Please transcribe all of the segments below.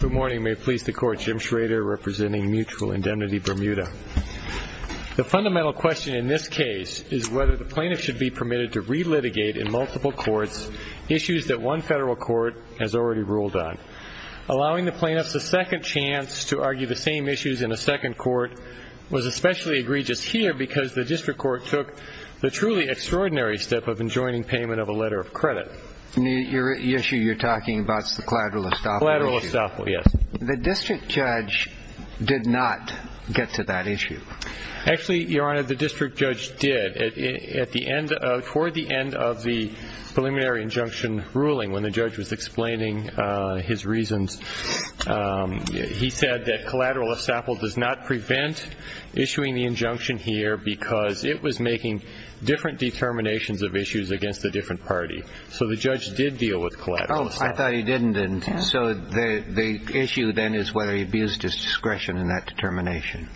Good morning. May it please the court, Jim Schrader representing Mutual Indemnity Bermuda. The fundamental question in this case is whether the plaintiff should be permitted to re-litigate in multiple courts issues that one federal court has already ruled on. Allowing the plaintiffs a second chance to argue the same issues in a second court was especially egregious here because the district court took the truly extraordinary step of enjoining payment of a letter of credit. Your issue you're talking about is the collateral estoppel issue. Collateral estoppel, yes. The district judge did not get to that issue. Actually, Your Honor, the district judge did. Toward the end of the preliminary injunction ruling, when the judge was explaining his reasons, he said that collateral estoppel does not prevent issuing the injunction here because it was making different determinations of issues against a different party. So the judge did deal with collateral estoppel. Oh, I thought he didn't. So the issue then is whether he abused his discretion in that determination.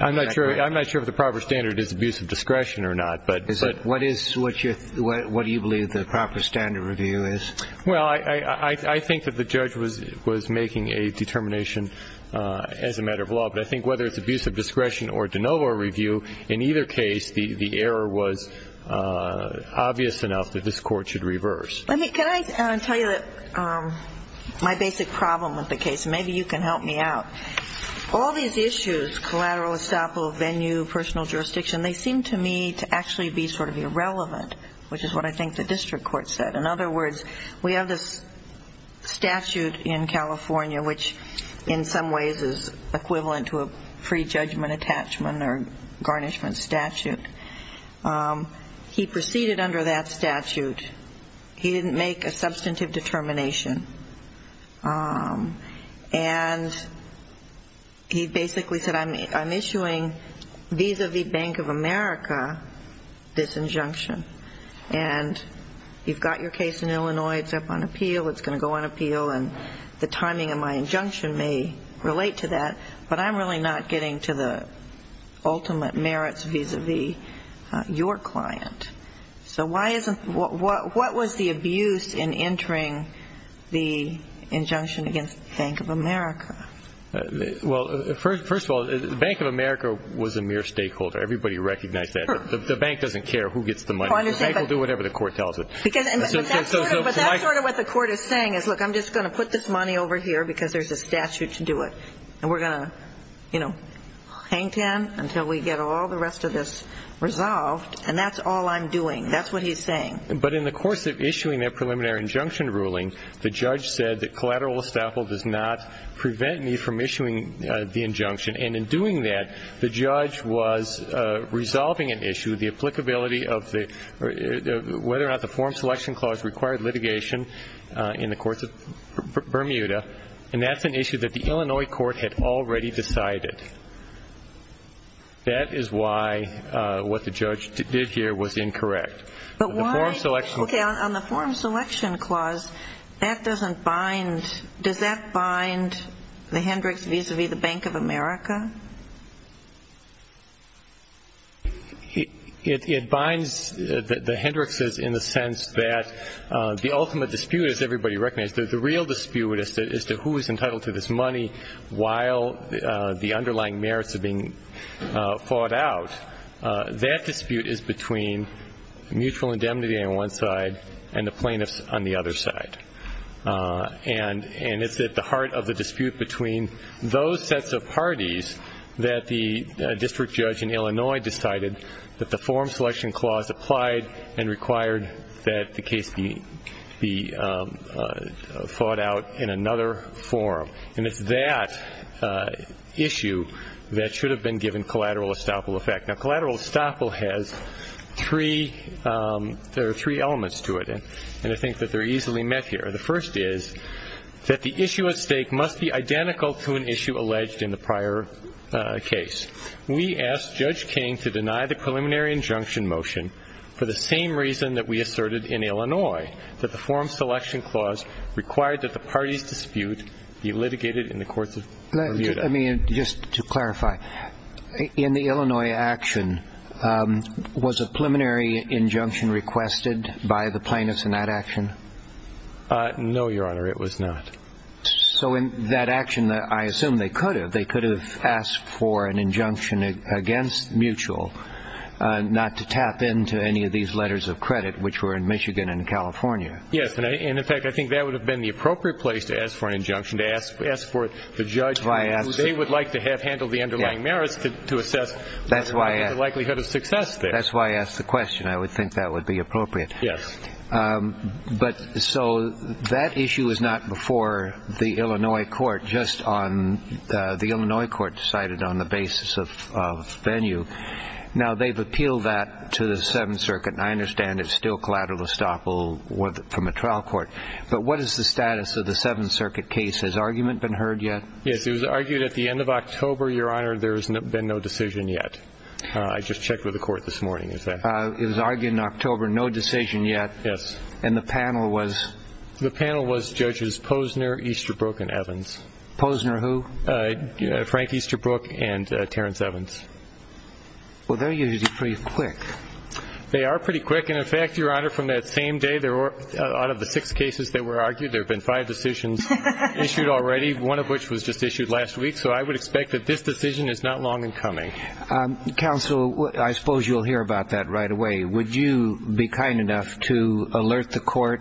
I'm not sure if the proper standard is abuse of discretion or not. What do you believe the proper standard review is? Well, I think that the judge was making a determination as a matter of law, but I think whether it's abuse of discretion or de novo review, in either case the error was obvious enough that this court should reverse. Can I tell you my basic problem with the case? Maybe you can help me out. All these issues, collateral estoppel, venue, personal jurisdiction, they seem to me to actually be sort of irrelevant, which is what I think the district court said. In other words, we have this statute in California, which in some ways is equivalent to a free judgment attachment or garnishment statute. He proceeded under that statute. He didn't make a substantive determination, and he basically said I'm issuing vis-a-vis Bank of America this injunction, and you've got your case in Illinois. It's up on appeal. It's going to go on appeal, and the timing of my injunction may relate to that, but I'm really not getting to the ultimate merits vis-a-vis your client. So what was the abuse in entering the injunction against Bank of America? Well, first of all, Bank of America was a mere stakeholder. Everybody recognized that. Sure. The bank doesn't care who gets the money. The bank will do whatever the court tells it. But that's sort of what the court is saying is, look, I'm just going to put this money over here because there's a statute to do it, and we're going to, you know, hang ten until we get all the rest of this resolved, and that's all I'm doing. That's what he's saying. But in the course of issuing that preliminary injunction ruling, the judge said that collateral estoppel does not prevent me from issuing the injunction, and in doing that, the judge was resolving an issue, the applicability of whether or not the form selection clause required litigation in the courts of Bermuda, and that's an issue that the Illinois court had already decided. That is why what the judge did here was incorrect. But why? Okay, on the form selection clause, that doesn't bind. Does that bind the Hendricks vis-à-vis the Bank of America? It binds the Hendrickses in the sense that the ultimate dispute, as everybody recognizes, the real dispute as to who is entitled to this money while the underlying merits are being fought out, that dispute is between mutual indemnity on one side and the plaintiffs on the other side. And it's at the heart of the dispute between those sets of parties that the district judge in Illinois decided that the form selection clause applied and required that the case be fought out in another forum. And it's that issue that should have been given collateral estoppel effect. Now, collateral estoppel has three elements to it, and I think that they're easily met here. The first is that the issue at stake must be identical to an issue alleged in the prior case. We asked Judge King to deny the preliminary injunction motion for the same reason that we asserted in Illinois, that the form selection clause required that the party's dispute be litigated in the courts of Bermuda. Let me just clarify. In the Illinois action, was a preliminary injunction requested by the plaintiffs in that action? No, Your Honor, it was not. So in that action, I assume they could have. They could have asked for an injunction against mutual not to tap into any of these letters of credit, which were in Michigan and California. Yes, and in fact, I think that would have been the appropriate place to ask for an injunction, to ask for the judge who they would like to have handled the underlying merits to assess the likelihood of success there. That's why I asked the question. I would think that would be appropriate. Yes. But so that issue was not before the Illinois court, just on the Illinois court decided on the basis of venue. Now, they've appealed that to the Seventh Circuit, and I understand it's still collateral estoppel from a trial court. But what is the status of the Seventh Circuit case? Has argument been heard yet? Yes, it was argued at the end of October, Your Honor, there's been no decision yet. I just checked with the court this morning. It was argued in October, no decision yet. Yes. And the panel was? The panel was Judges Posner, Easterbrook, and Evans. Posner who? Frank Easterbrook and Terrence Evans. Well, they're usually pretty quick. They are pretty quick. And, in fact, Your Honor, from that same day, out of the six cases that were argued, there have been five decisions issued already, one of which was just issued last week. So I would expect that this decision is not long in coming. Counsel, I suppose you'll hear about that right away. Would you be kind enough to alert the court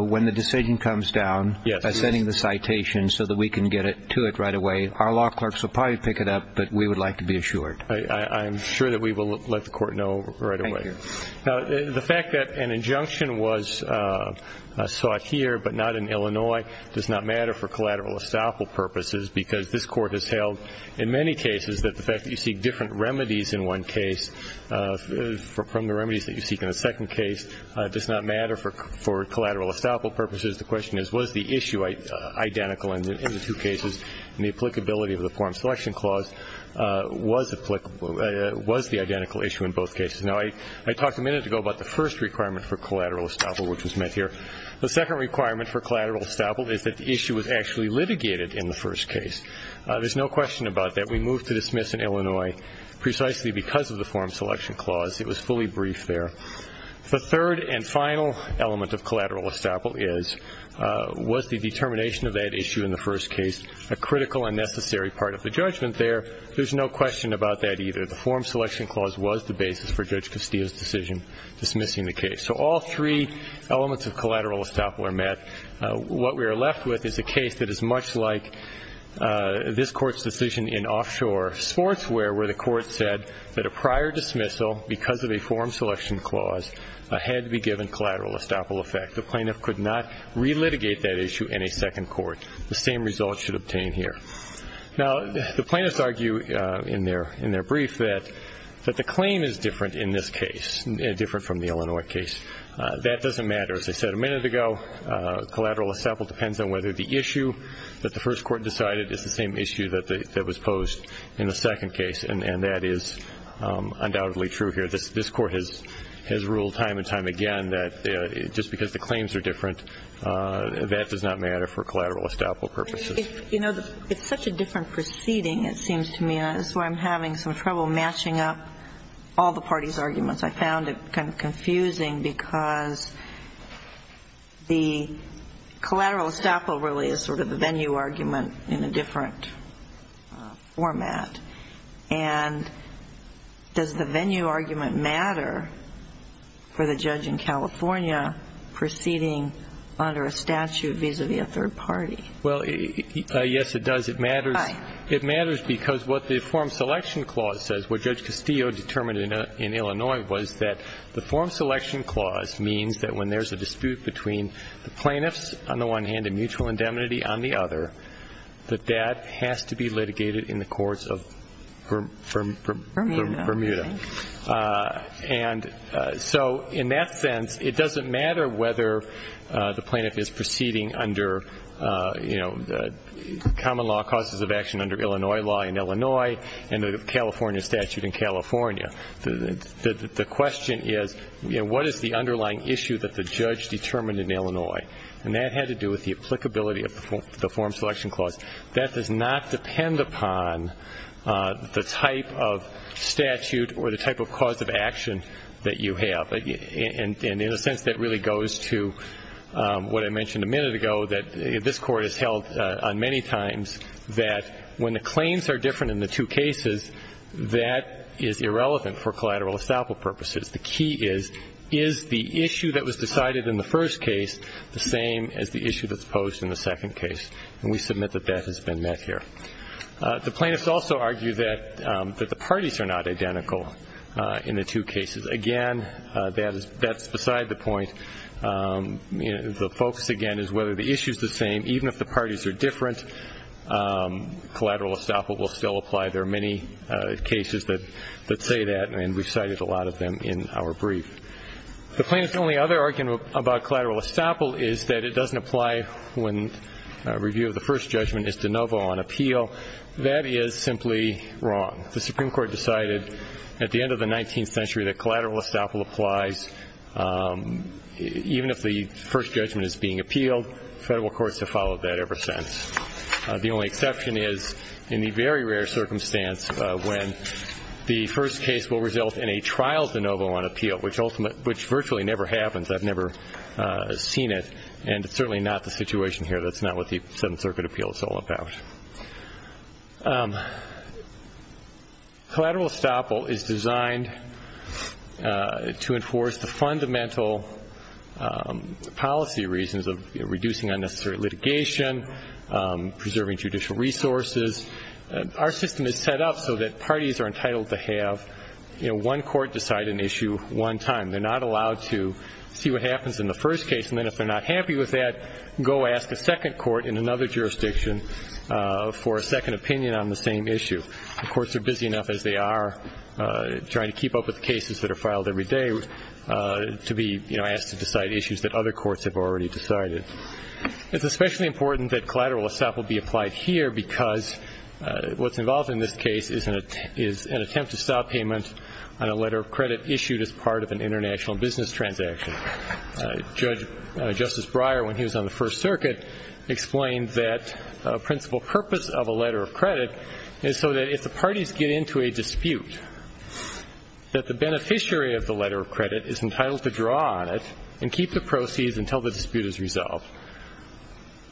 when the decision comes down by sending the citation so that we can get to it right away? Our law clerks will probably pick it up, but we would like to be assured. I'm sure that we will let the court know right away. Now, the fact that an injunction was sought here but not in Illinois does not matter for collateral estoppel purposes because this Court has held in many cases that the fact that you seek different remedies in one case from the remedies that you seek in the second case does not matter for collateral estoppel purposes. The question is, was the issue identical in the two cases, and the applicability of the Foreign Selection Clause was the identical issue in both cases? Now, I talked a minute ago about the first requirement for collateral estoppel, which was met here. The second requirement for collateral estoppel is that the issue was actually litigated in the first case. There's no question about that. We moved to dismiss in Illinois precisely because of the Foreign Selection Clause. It was fully briefed there. The third and final element of collateral estoppel is, was the determination of that issue in the first case a critical and necessary part of the judgment there? There's no question about that either. The Foreign Selection Clause was the basis for Judge Castillo's decision dismissing the case. So all three elements of collateral estoppel are met. What we are left with is a case that is much like this Court's decision in offshore sportswear where the Court said that a prior dismissal because of a Foreign Selection Clause had to be given collateral estoppel effect. The plaintiff could not relitigate that issue in a second court. The same result should obtain here. Now, the plaintiffs argue in their brief that the claim is different in this case, different from the Illinois case. That doesn't matter. As I said a minute ago, collateral estoppel depends on whether the issue that the first court decided is the same issue that was posed in the second case, and that is undoubtedly true here. This Court has ruled time and time again that just because the claims are different, that does not matter for collateral estoppel purposes. It's such a different proceeding, it seems to me, and that's why I'm having some trouble matching up all the parties' arguments. I found it kind of confusing because the collateral estoppel really is sort of the venue argument in a different format. And does the venue argument matter for the judge in California proceeding under a statute vis-à-vis a third party? Well, yes, it does. It matters. Why? It matters because what the Form Selection Clause says, what Judge Castillo determined in Illinois was that the Form Selection Clause means that when there's a dispute between the plaintiffs on the one hand and mutual indemnity on the other, that that has to be litigated in the courts of Bermuda. Bermuda, I think. And so in that sense, it doesn't matter whether the plaintiff is proceeding under common law causes of action under Illinois law in Illinois and the California statute in California. The question is, what is the underlying issue that the judge determined in Illinois? And that had to do with the applicability of the Form Selection Clause. That does not depend upon the type of statute or the type of cause of action that you have. And in a sense, that really goes to what I mentioned a minute ago that this Court has held on many times, that when the claims are different in the two cases, that is irrelevant for collateral estoppel purposes. The key is, is the issue that was decided in the first case the same as the issue that's posed in the second case? And we submit that that has been met here. The plaintiffs also argue that the parties are not identical in the two cases. Again, that's beside the point. The focus, again, is whether the issue is the same. Even if the parties are different, collateral estoppel will still apply. There are many cases that say that, and we've cited a lot of them in our brief. The plaintiffs' only other argument about collateral estoppel is that it doesn't apply when a review of the first judgment is de novo on appeal. That is simply wrong. The Supreme Court decided at the end of the 19th century that collateral estoppel applies even if the first judgment is being appealed. Federal courts have followed that ever since. The only exception is in the very rare circumstance when the first case will result in a trial de novo on appeal, which virtually never happens. I've never seen it, and it's certainly not the situation here. That's not what the Seventh Circuit appeal is all about. Collateral estoppel is designed to enforce the fundamental policy reasons of reducing unnecessary litigation, preserving judicial resources. Our system is set up so that parties are entitled to have one court decide an issue one time. They're not allowed to see what happens in the first case, and then if they're not happy with that, go ask a second court in another jurisdiction for a second opinion on the same issue. Courts are busy enough as they are trying to keep up with cases that are filed every day to be asked to decide issues that other courts have already decided. It's especially important that collateral estoppel be applied here because what's involved in this case is an attempt to stop payment on a letter of credit issued as part of an international business transaction. Judge Justice Breyer, when he was on the First Circuit, explained that a principal purpose of a letter of credit is so that if the parties get into a dispute, that the beneficiary of the letter of credit is entitled to draw on it and keep the proceeds until the dispute is resolved.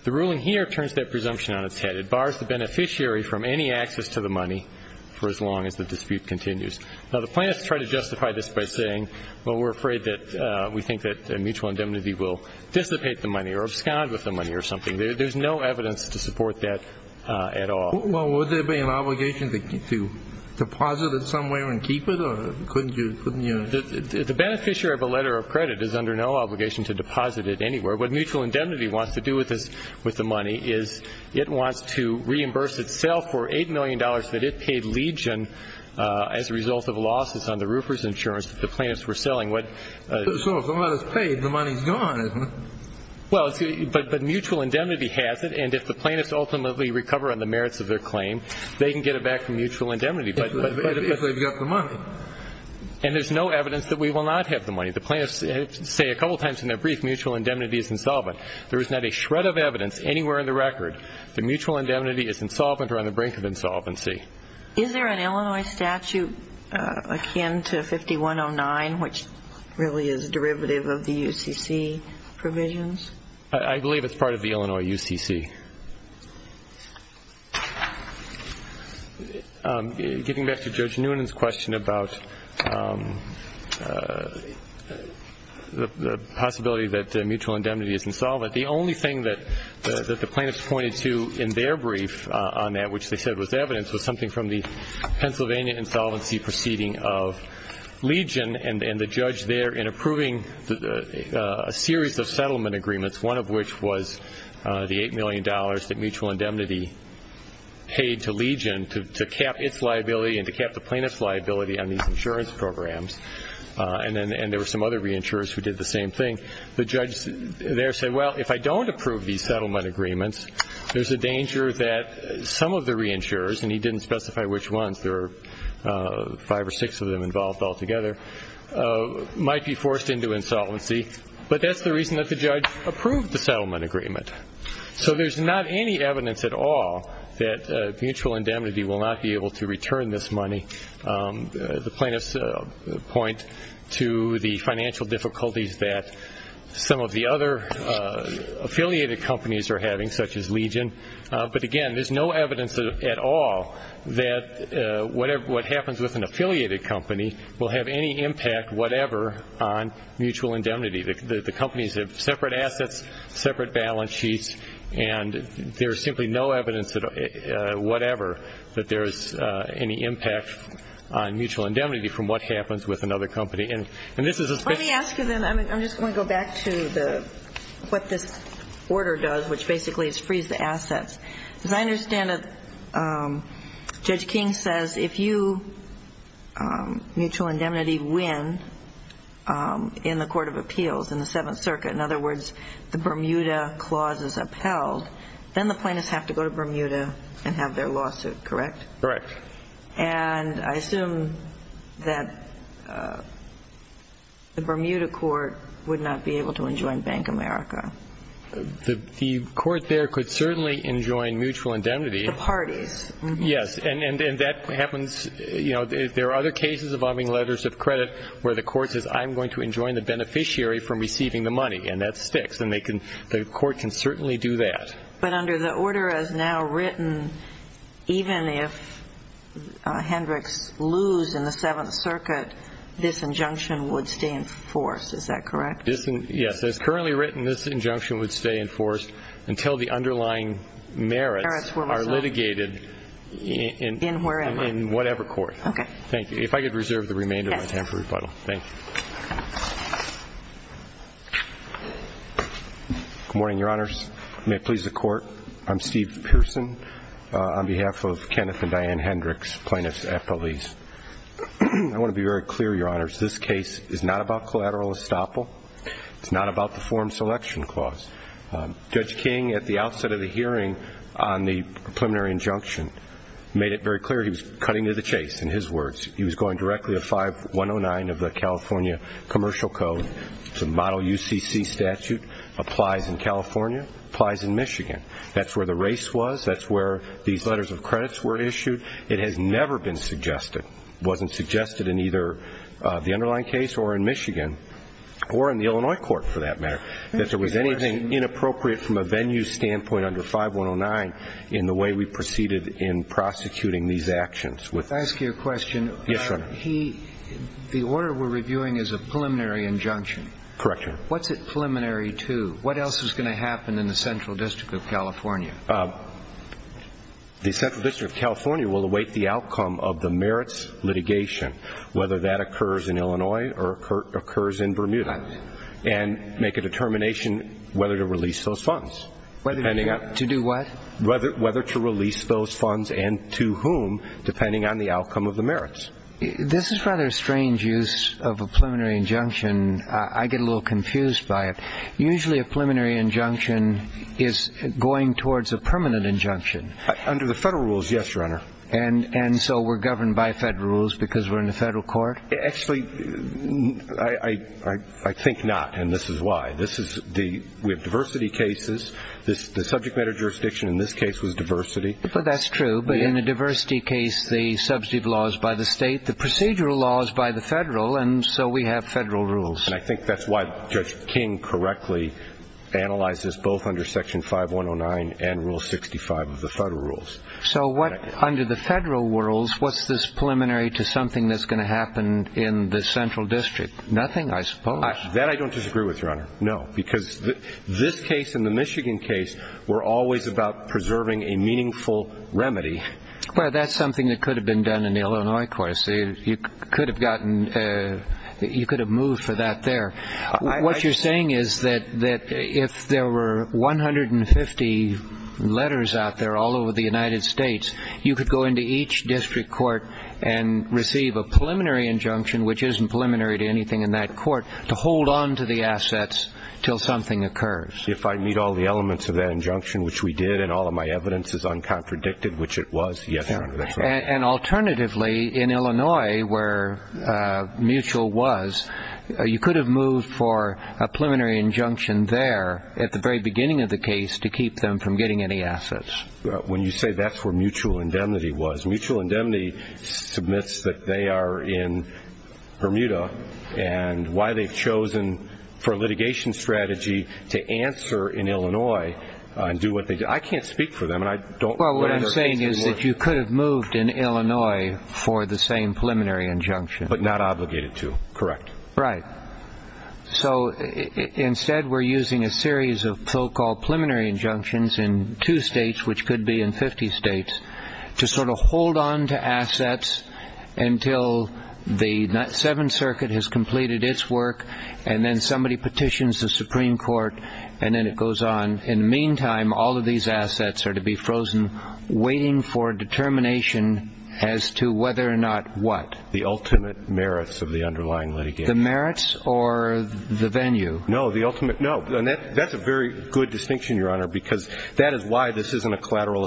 The ruling here turns that presumption on its head. It bars the beneficiary from any access to the money for as long as the dispute continues. Now, the plaintiffs try to justify this by saying, well, we're afraid that we think that mutual indemnity will dissipate the money or abscond with the money or something. There's no evidence to support that at all. Well, would there be an obligation to deposit it somewhere and keep it, or couldn't you? The beneficiary of a letter of credit is under no obligation to deposit it anywhere. What mutual indemnity wants to do with the money is it wants to reimburse itself for $8 million that it paid Legion as a result of losses on the roofer's insurance that the plaintiffs were selling. So if the letter's paid, the money's gone, isn't it? Well, but mutual indemnity has it, and if the plaintiffs ultimately recover on the merits of their claim, they can get it back from mutual indemnity. If they've got the money. And there's no evidence that we will not have the money. The plaintiffs say a couple of times in their brief, mutual indemnity is insolvent. There is not a shred of evidence anywhere in the record that mutual indemnity is insolvent or on the brink of insolvency. Is there an Illinois statute akin to 5109, which really is a derivative of the UCC provisions? I believe it's part of the Illinois UCC. Getting back to Judge Noonan's question about the possibility that mutual indemnity is insolvent, the only thing that the plaintiffs pointed to in their brief on that, which they said was evidence, was something from the Pennsylvania insolvency proceeding of Legion and the judge there in approving a series of settlement agreements, one of which was the $8 million that mutual indemnity paid to Legion to cap its liability and to cap the plaintiff's liability on these insurance programs. And there were some other reinsurers who did the same thing. The judge there said, well, if I don't approve these settlement agreements, there's a danger that some of the reinsurers, and he didn't specify which ones, there were five or six of them involved altogether, might be forced into insolvency. But that's the reason that the judge approved the settlement agreement. So there's not any evidence at all that mutual indemnity will not be able to return this money. The plaintiffs point to the financial difficulties that some of the other affiliated companies are having, such as Legion. But, again, there's no evidence at all that what happens with an affiliated company will have any impact whatever on mutual indemnity. The companies have separate assets, separate balance sheets, and there is simply no evidence, whatever, that there is any impact on mutual indemnity from what happens with another company. And this is a special case. Let me ask you then, I'm just going to go back to what this order does, which basically is freeze the assets. As I understand it, Judge King says, if you, mutual indemnity win in the court of appeals, in the Seventh Circuit, in other words, the Bermuda clause is upheld, then the plaintiffs have to go to Bermuda and have their lawsuit, correct? Correct. And I assume that the Bermuda court would not be able to enjoin Bank America. The court there could certainly enjoin mutual indemnity. The parties. Yes. And that happens, you know, there are other cases involving letters of credit where the court says, I'm going to enjoin the beneficiary from receiving the money, and that sticks. And the court can certainly do that. But under the order as now written, even if Hendricks lose in the Seventh Circuit, this injunction would stay in force. Is that correct? Yes. As currently written, this injunction would stay in force until the underlying merits are litigated in whatever court. Okay. Thank you. If I could reserve the remainder of my time for rebuttal. Thank you. Good morning, Your Honors. May it please the Court. I'm Steve Pearson on behalf of Kenneth and Diane Hendricks, plaintiffs' affilies. I want to be very clear, Your Honors, this case is not about collateral estoppel. It's not about the form selection clause. Judge King, at the outset of the hearing on the preliminary injunction, made it very clear he was cutting to the chase. In his words, he was going directly to 5109 of the California Commercial Code. It's a model UCC statute. Applies in California. Applies in Michigan. That's where the race was. That's where these letters of credits were issued. It has never been suggested. It wasn't suggested in either the underlying case or in Michigan or in the Illinois court, for that matter, that there was anything inappropriate from a venue standpoint under 5109 in the way we proceeded in prosecuting these actions. May I ask you a question? Yes, Your Honor. The order we're reviewing is a preliminary injunction. Correct, Your Honor. What's it preliminary to? What else is going to happen in the Central District of California? The Central District of California will await the outcome of the merits litigation, whether that occurs in Illinois or occurs in Bermuda, and make a determination whether to release those funds. To do what? Whether to release those funds and to whom, depending on the outcome of the merits. This is rather a strange use of a preliminary injunction. I get a little confused by it. Usually a preliminary injunction is going towards a permanent injunction. Under the federal rules, yes, Your Honor. And so we're governed by federal rules because we're in the federal court? Actually, I think not, and this is why. We have diversity cases. The subject matter jurisdiction in this case was diversity. But that's true. But in a diversity case, the subsidy of law is by the state. The procedural law is by the federal, and so we have federal rules. And I think that's why Judge King correctly analyzes both under Section 5109 and Rule 65 of the federal rules. So under the federal rules, what's this preliminary to something that's going to happen in the Central District? Nothing, I suppose. That I don't disagree with, Your Honor, no. Because this case and the Michigan case were always about preserving a meaningful remedy. Well, that's something that could have been done in the Illinois courts. You could have gotten – you could have moved for that there. What you're saying is that if there were 150 letters out there all over the United States, you could go into each district court and receive a preliminary injunction, which isn't preliminary to anything in that court, to hold on to the assets until something occurs. If I meet all the elements of that injunction, which we did, and all of my evidence is uncontradicted, which it was, yes, Your Honor, that's right. And alternatively, in Illinois, where mutual was, you could have moved for a preliminary injunction there at the very beginning of the case to keep them from getting any assets. When you say that's where mutual indemnity was, mutual indemnity submits that they are in Bermuda, and why they've chosen for litigation strategy to answer in Illinois and do what they – I can't speak for them, and I don't – Well, what I'm saying is that you could have moved in Illinois for the same preliminary injunction. But not obligated to, correct. Right. So instead, we're using a series of so-called preliminary injunctions in two states, which could be in 50 states, to sort of hold on to assets until the Seventh Circuit has completed its work, and then somebody petitions the Supreme Court, and then it goes on. In the meantime, all of these assets are to be frozen, waiting for determination as to whether or not what? The ultimate merits of the underlying litigation. The merits or the venue? No, the ultimate – no. That's a very good distinction, Your Honor, because that is why this isn't a collateral estoppel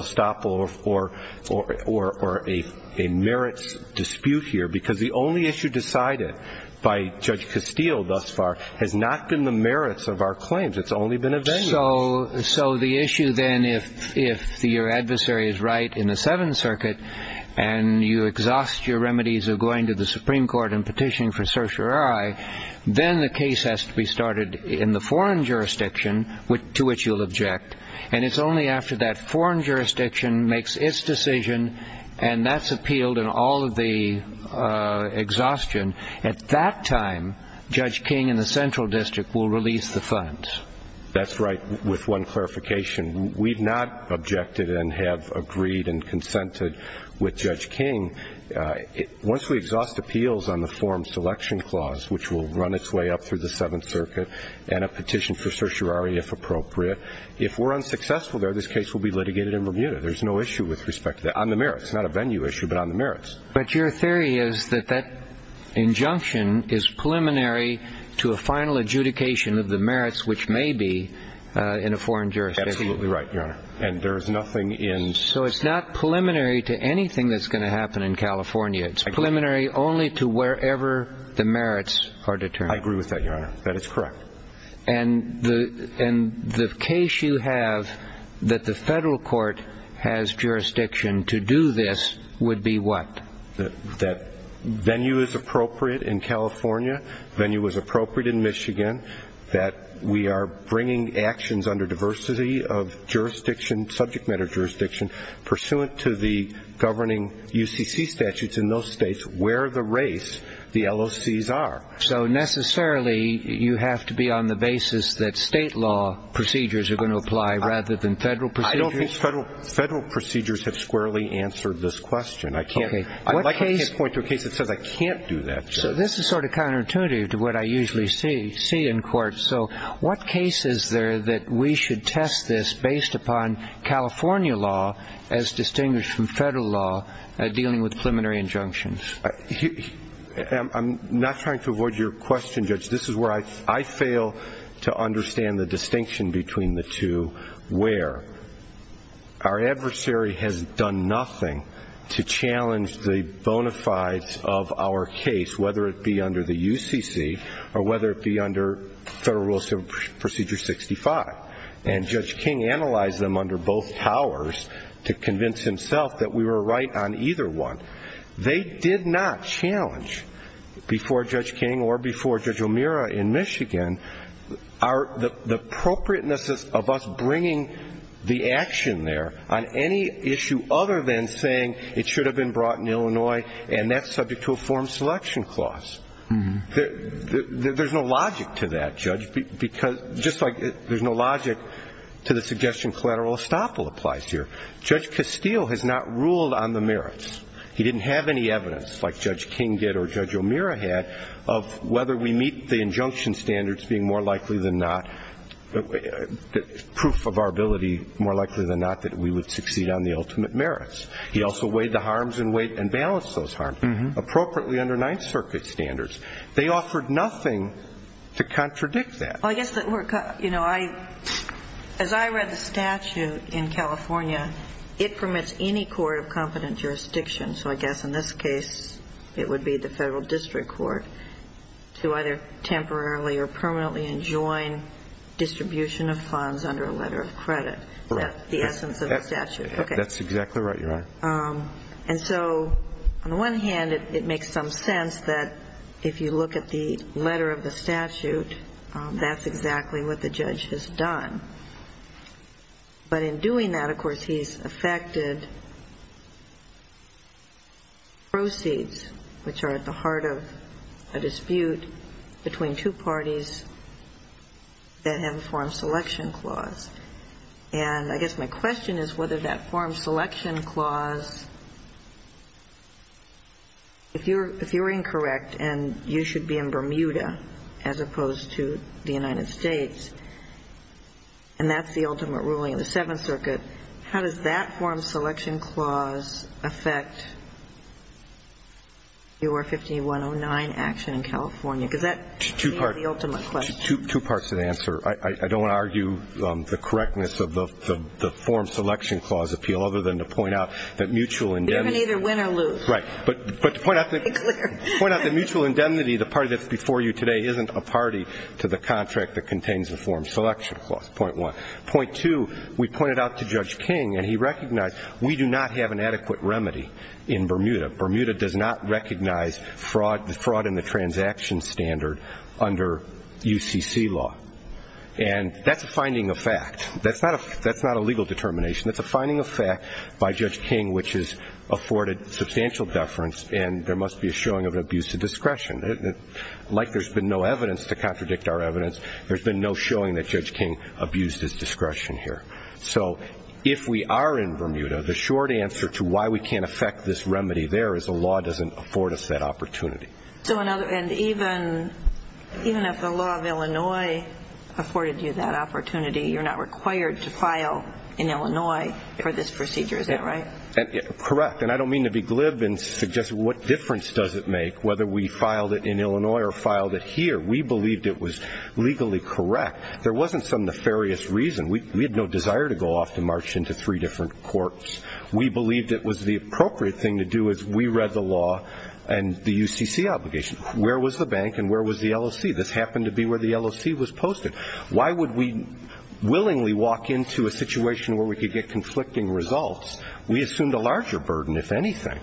or a merits dispute here, because the only issue decided by Judge Castile thus far has not been the merits of our claims. It's only been a venue. So the issue then, if your adversary is right in the Seventh Circuit, and you exhaust your remedies of going to the Supreme Court and petitioning for certiorari, then the case has to be started in the foreign jurisdiction to which you'll object, and it's only after that foreign jurisdiction makes its decision and that's appealed and all of the exhaustion. At that time, Judge King in the Central District will release the funds. That's right, with one clarification. We've not objected and have agreed and consented with Judge King. Once we exhaust appeals on the forum selection clause, which will run its way up through the Seventh Circuit, and a petition for certiorari, if appropriate, if we're unsuccessful there, this case will be litigated in Bermuda. There's no issue with respect to that on the merits. It's not a venue issue, but on the merits. But your theory is that that injunction is preliminary to a final adjudication of the merits, which may be in a foreign jurisdiction. Absolutely right, Your Honor, and there is nothing in – So it's not preliminary to anything that's going to happen in California. It's preliminary only to wherever the merits are determined. I agree with that, Your Honor. That is correct. And the case you have that the federal court has jurisdiction to do this would be what? That venue is appropriate in California, venue is appropriate in Michigan, that we are bringing actions under diversity of jurisdiction, subject matter jurisdiction, pursuant to the governing UCC statutes in those states where the race, the LOCs, are. So necessarily you have to be on the basis that state law procedures are going to apply rather than federal procedures? I don't think federal procedures have squarely answered this question. Okay. I'd like to point to a case that says I can't do that, Judge. So this is sort of counterintuitive to what I usually see in court. So what case is there that we should test this based upon California law as distinguished from federal law dealing with preliminary injunctions? I'm not trying to avoid your question, Judge. This is where I fail to understand the distinction between the two where our adversary has done nothing to challenge the bona fides of our case, whether it be under the UCC or whether it be under Federal Rule Procedure 65. And Judge King analyzed them under both powers to convince himself that we were right on either one. They did not challenge before Judge King or before Judge O'Meara in Michigan the appropriateness of us saying it should have been brought in Illinois and that's subject to a form selection clause. There's no logic to that, Judge, because just like there's no logic to the suggestion collateral estoppel applies here. Judge Castile has not ruled on the merits. He didn't have any evidence like Judge King did or Judge O'Meara had of whether we meet the injunction standards being more likely than not, proof of our ability more likely than not that we would succeed on the ultimate merits. He also weighed the harms and balanced those harms appropriately under Ninth Circuit standards. They offered nothing to contradict that. As I read the statute in California, it permits any court of competent jurisdiction, so I guess in this case it would be the Federal District Court, to either temporarily or permanently enjoin distribution of funds under a letter of credit. That's the essence of the statute. That's exactly right, Your Honor. And so on the one hand, it makes some sense that if you look at the letter of the statute, that's exactly what the judge has done. But in doing that, of course, he's affected proceeds, which are at the heart of a dispute between two parties that have a form selection clause. And I guess my question is whether that form selection clause, if you're incorrect and you should be in Bermuda as opposed to the United States, and that's the ultimate ruling of the Seventh Circuit, how does that form selection clause affect your 5109 action in California? Because that seems the ultimate question. Two parts of the answer. I don't want to argue the correctness of the form selection clause appeal, other than to point out that mutual indemnity. You can either win or lose. Right. But to point out that mutual indemnity, the party that's before you today, isn't a party to the contract that contains the form selection clause, point one. Point two, we pointed out to Judge King, and he recognized we do not have an adequate remedy in Bermuda. Bermuda does not recognize fraud in the transaction standard under UCC law. And that's a finding of fact. That's not a legal determination. That's a finding of fact by Judge King, which has afforded substantial deference, and there must be a showing of an abuse of discretion. Like there's been no evidence to contradict our evidence, there's been no showing that Judge King abused his discretion here. So if we are in Bermuda, the short answer to why we can't affect this remedy there is the law doesn't afford us that opportunity. And even if the law of Illinois afforded you that opportunity, you're not required to file in Illinois for this procedure. Is that right? Correct. And I don't mean to be glib and suggest what difference does it make whether we filed it in Illinois or filed it here. We believed it was legally correct. There wasn't some nefarious reason. We had no desire to go off to march into three different courts. We believed it was the appropriate thing to do as we read the law and the UCC obligation. Where was the bank and where was the LOC? This happened to be where the LOC was posted. Why would we willingly walk into a situation where we could get conflicting results? We assumed a larger burden, if anything,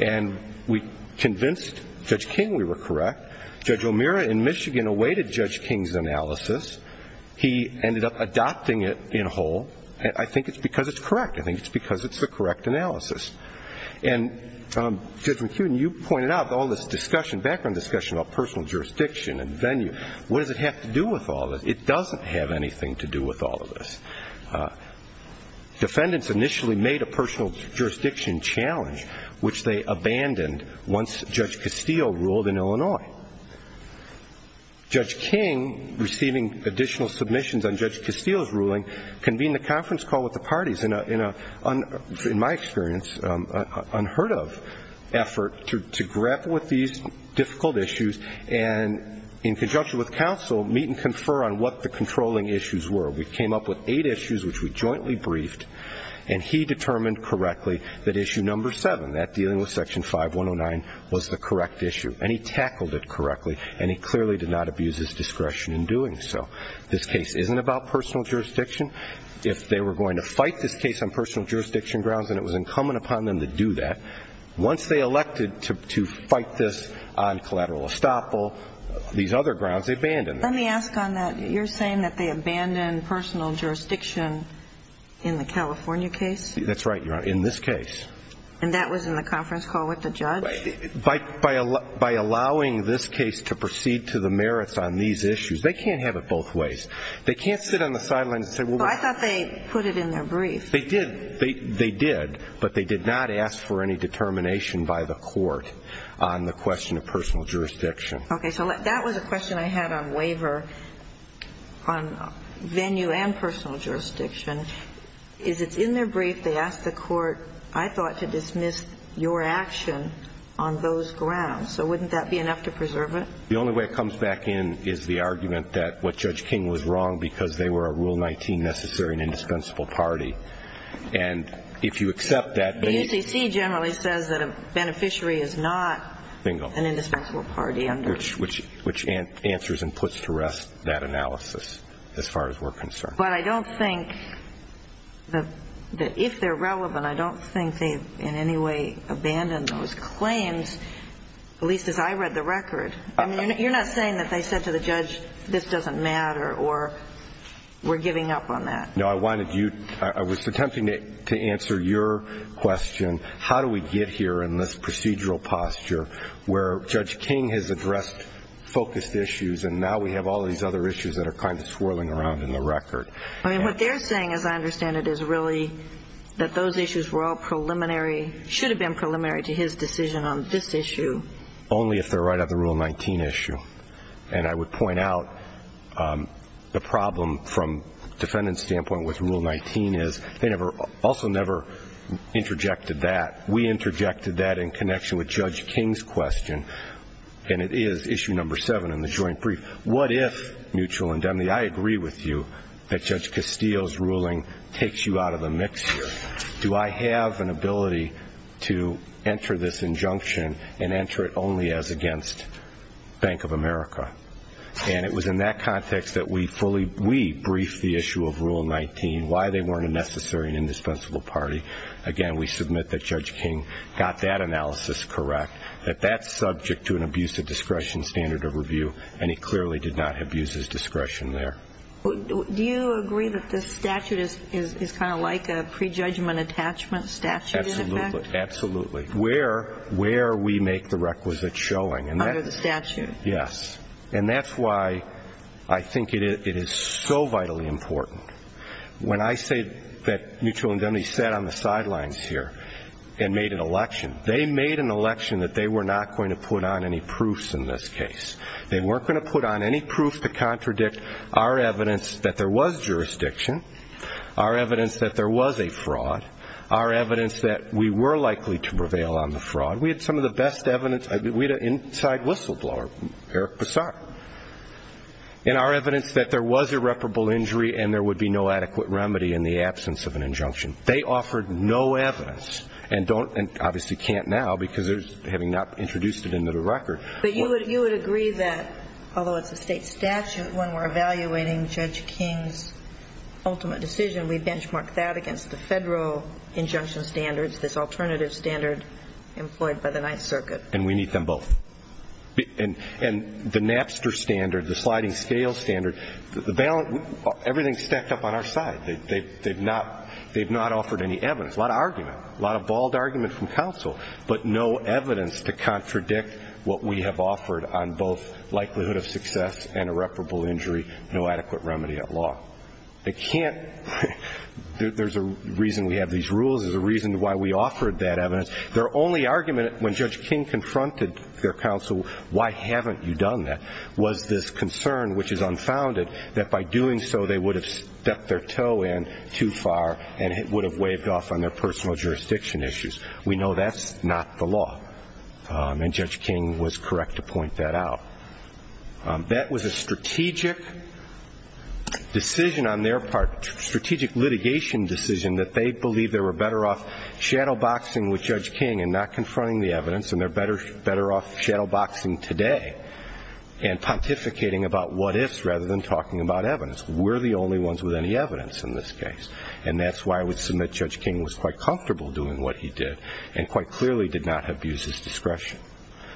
and we convinced Judge King we were correct. Judge O'Meara in Michigan awaited Judge King's analysis. He ended up adopting it in whole. I think it's because it's correct. I think it's because it's the correct analysis. And, Judge McEwen, you pointed out all this discussion, background discussion, about personal jurisdiction and venue. What does it have to do with all this? It doesn't have anything to do with all of this. Defendants initially made a personal jurisdiction challenge, which they abandoned once Judge Castillo ruled in Illinois. Judge King, receiving additional submissions on Judge Castillo's ruling, convened a conference call with the parties in a, in my experience, unheard of effort to grapple with these difficult issues and in conjunction with counsel meet and confer on what the controlling issues were. We came up with eight issues which we jointly briefed, and he determined correctly that issue number seven, that dealing with Section 5109, was the correct issue. And he tackled it correctly, and he clearly did not abuse his discretion in doing so. This case isn't about personal jurisdiction. If they were going to fight this case on personal jurisdiction grounds, and it was incumbent upon them to do that, once they elected to fight this on collateral estoppel, these other grounds, they abandoned it. Let me ask on that. You're saying that they abandoned personal jurisdiction in the California case? That's right, Your Honor, in this case. And that was in the conference call with the judge? By allowing this case to proceed to the merits on these issues. They can't have it both ways. They can't sit on the sidelines and say, well, we're going to. Well, I thought they put it in their brief. They did. They did. But they did not ask for any determination by the court on the question of personal jurisdiction. Okay. So that was a question I had on waiver on venue and personal jurisdiction, is it's in their brief. They asked the court, I thought, to dismiss your action on those grounds. So wouldn't that be enough to preserve it? The only way it comes back in is the argument that what Judge King was wrong because they were a Rule 19 necessary and indispensable party. And if you accept that. The UCC generally says that a beneficiary is not an indispensable party. Bingo. Which answers and puts to rest that analysis as far as we're concerned. But I don't think that if they're relevant, I don't think they've in any way abandoned those claims, at least as I read the record. You're not saying that they said to the judge, this doesn't matter, or we're giving up on that. No, I was attempting to answer your question, how do we get here in this procedural posture where Judge King has addressed focused issues and now we have all these other issues that are kind of swirling around in the record. What they're saying, as I understand it, is really that those issues were all preliminary, should have been preliminary to his decision on this issue. Only if they're right on the Rule 19 issue. And I would point out the problem from defendant's standpoint with Rule 19 is they also never interjected that. We interjected that in connection with Judge King's question, and it is issue number seven in the joint brief. What if, mutual indemnity, I agree with you that Judge Castillo's ruling takes you out of the mix here. Do I have an ability to enter this injunction and enter it only as against Bank of America? And it was in that context that we fully, we briefed the issue of Rule 19, why they weren't a necessary and indispensable party. Again, we submit that Judge King got that analysis correct, that that's subject to an abusive discretion standard of review, and he clearly did not abuse his discretion there. Do you agree that this statute is kind of like a prejudgment attachment statute in effect? Absolutely, absolutely. Where we make the requisite showing. Under the statute. Yes. And that's why I think it is so vitally important. When I say that mutual indemnity sat on the sidelines here and made an election, they made an election that they were not going to put on any proofs in this case. They weren't going to put on any proof to contradict our evidence that there was jurisdiction, our evidence that there was a fraud, our evidence that we were likely to prevail on the fraud. We had some of the best evidence. We had an inside whistleblower, Eric Bessar, and our evidence that there was irreparable injury and there would be no adequate remedy in the absence of an injunction. They offered no evidence and obviously can't now because having not introduced it into the record. But you would agree that, although it's a state statute, when we're evaluating Judge King's ultimate decision, we benchmark that against the federal injunction standards, this alternative standard employed by the Ninth Circuit. And we need them both. And the Napster standard, the sliding scale standard, everything is stacked up on our side. They've not offered any evidence, a lot of argument, a lot of bald argument from counsel, but no evidence to contradict what we have offered on both likelihood of success and irreparable injury, no adequate remedy at law. They can't. There's a reason we have these rules. There's a reason why we offered that evidence. Their only argument when Judge King confronted their counsel, why haven't you done that, was this concern, which is unfounded, that by doing so they would have stepped their toe in too far and it would have waved off on their personal jurisdiction issues. We know that's not the law. And Judge King was correct to point that out. That was a strategic decision on their part, strategic litigation decision, that they believed they were better off shadowboxing with Judge King and not confronting the evidence and they're better off shadowboxing today and pontificating about what-ifs rather than talking about evidence. We're the only ones with any evidence in this case, and that's why I would submit Judge King was quite comfortable doing what he did and quite clearly did not abuse his discretion.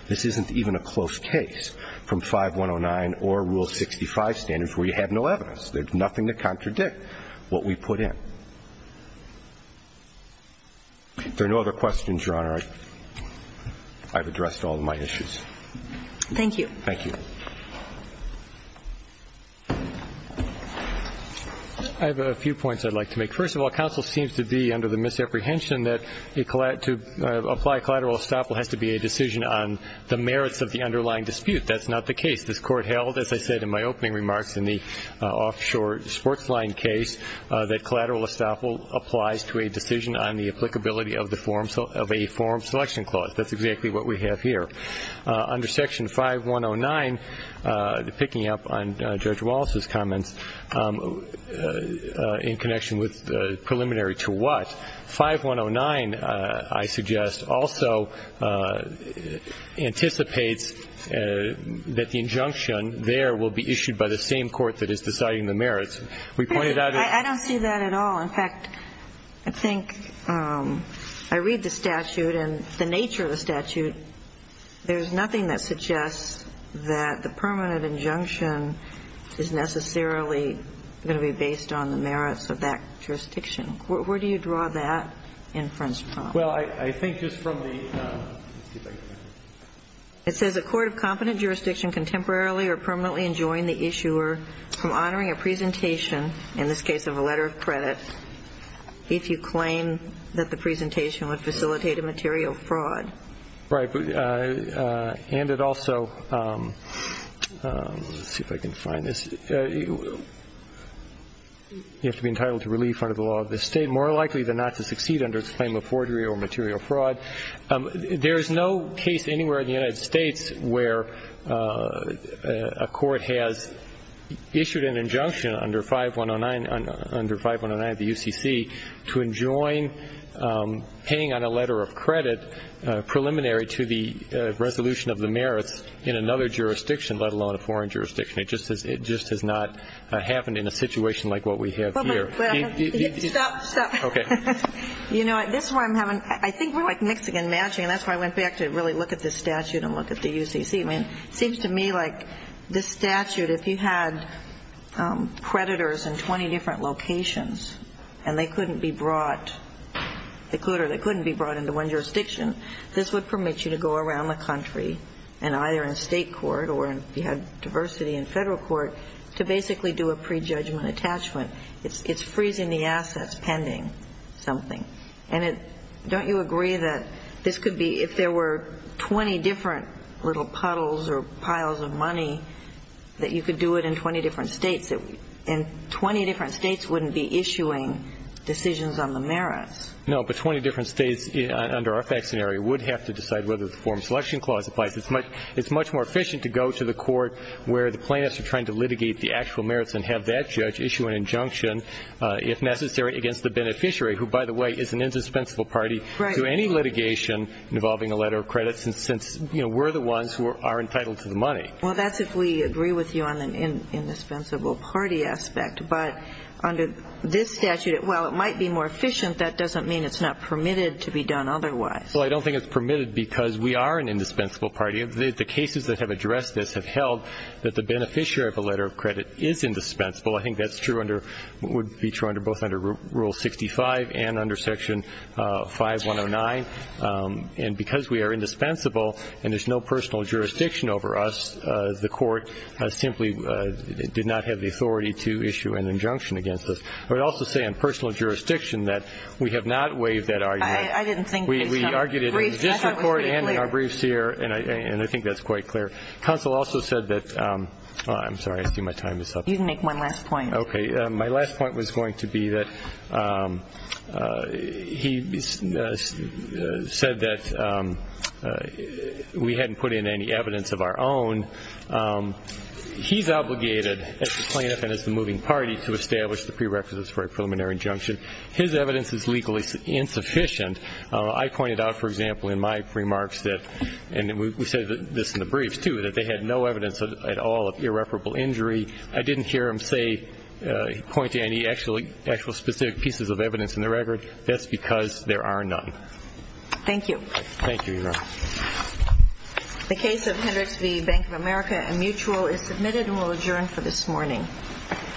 This isn't even a close case from 5109 or Rule 65 standards where you have no evidence. There's nothing to contradict what we put in. If there are no other questions, Your Honor, I've addressed all of my issues. Thank you. Thank you. I have a few points I'd like to make. First of all, counsel seems to be under the misapprehension that to apply collateral estoppel has to be a decision on the merits of the underlying dispute. That's not the case. This Court held, as I said in my opening remarks in the offshore sports line case, that collateral estoppel applies to a decision on the applicability of a form selection clause. That's exactly what we have here. Under Section 5109, picking up on Judge Wallace's comments in connection with preliminary to what, 5109, I suggest, also anticipates that the injunction there will be issued by the same court that is deciding the merits. We pointed out that. I don't see that at all. In fact, I think I read the statute and the nature of the statute. There's nothing that suggests that the permanent injunction is necessarily going to be based on the merits of that jurisdiction. Where do you draw that inference from? Well, I think just from the, excuse me, it says, Does a court of competent jurisdiction contemporarily or permanently enjoin the issuer from honoring a presentation, in this case of a letter of credit, if you claim that the presentation would facilitate a material fraud? Right. And it also, let's see if I can find this. You have to be entitled to relief under the law of the state, more likely than not to succeed under its claim of forgery or material fraud. There is no case anywhere in the United States where a court has issued an injunction under 5109 of the UCC to enjoin paying on a letter of credit preliminary to the resolution of the merits in another jurisdiction, let alone a foreign jurisdiction. It just has not happened in a situation like what we have here. Stop, stop. Okay. You know, this is where I'm having, I think we're like mixing and matching, and that's why I went back to really look at this statute and look at the UCC. I mean, it seems to me like this statute, if you had predators in 20 different locations and they couldn't be brought, they could or they couldn't be brought into one jurisdiction, this would permit you to go around the country and either in a state court or if you had diversity in federal court to basically do a prejudgment attachment. It's freezing the assets pending. Something. And don't you agree that this could be, if there were 20 different little puddles or piles of money, that you could do it in 20 different states? And 20 different states wouldn't be issuing decisions on the merits. No, but 20 different states under our fact scenario would have to decide whether the Foreign Selection Clause applies. It's much more efficient to go to the court where the plaintiffs are trying to litigate the actual merits and have that judge issue an injunction, if necessary, against the beneficiary, who, by the way, is an indispensable party to any litigation involving a letter of credit since we're the ones who are entitled to the money. Well, that's if we agree with you on the indispensable party aspect. But under this statute, while it might be more efficient, that doesn't mean it's not permitted to be done otherwise. Well, I don't think it's permitted because we are an indispensable party. The cases that have addressed this have held that the beneficiary of a letter of credit is indispensable. I think that's true under what would be true both under Rule 65 and under Section 5109. And because we are indispensable and there's no personal jurisdiction over us, the court simply did not have the authority to issue an injunction against us. I would also say on personal jurisdiction that we have not waived that argument. I didn't think we had. We argued it in the district court and in our briefs here, and I think that's quite clear. Counsel also said that we hadn't put in any evidence of our own. He's obligated, as the plaintiff and as the moving party, to establish the prerequisites for a preliminary injunction. His evidence is legally insufficient. I pointed out, for example, in my remarks that, and we said this in the briefs too, that they had no evidence at all of irreparable injury. I didn't hear him say, point to any actual specific pieces of evidence in the record. That's because there are none. Thank you. Thank you, Your Honor. The case of Hendricks v. Bank of America and Mutual is submitted and will adjourn for this morning. Thank you. Thank you.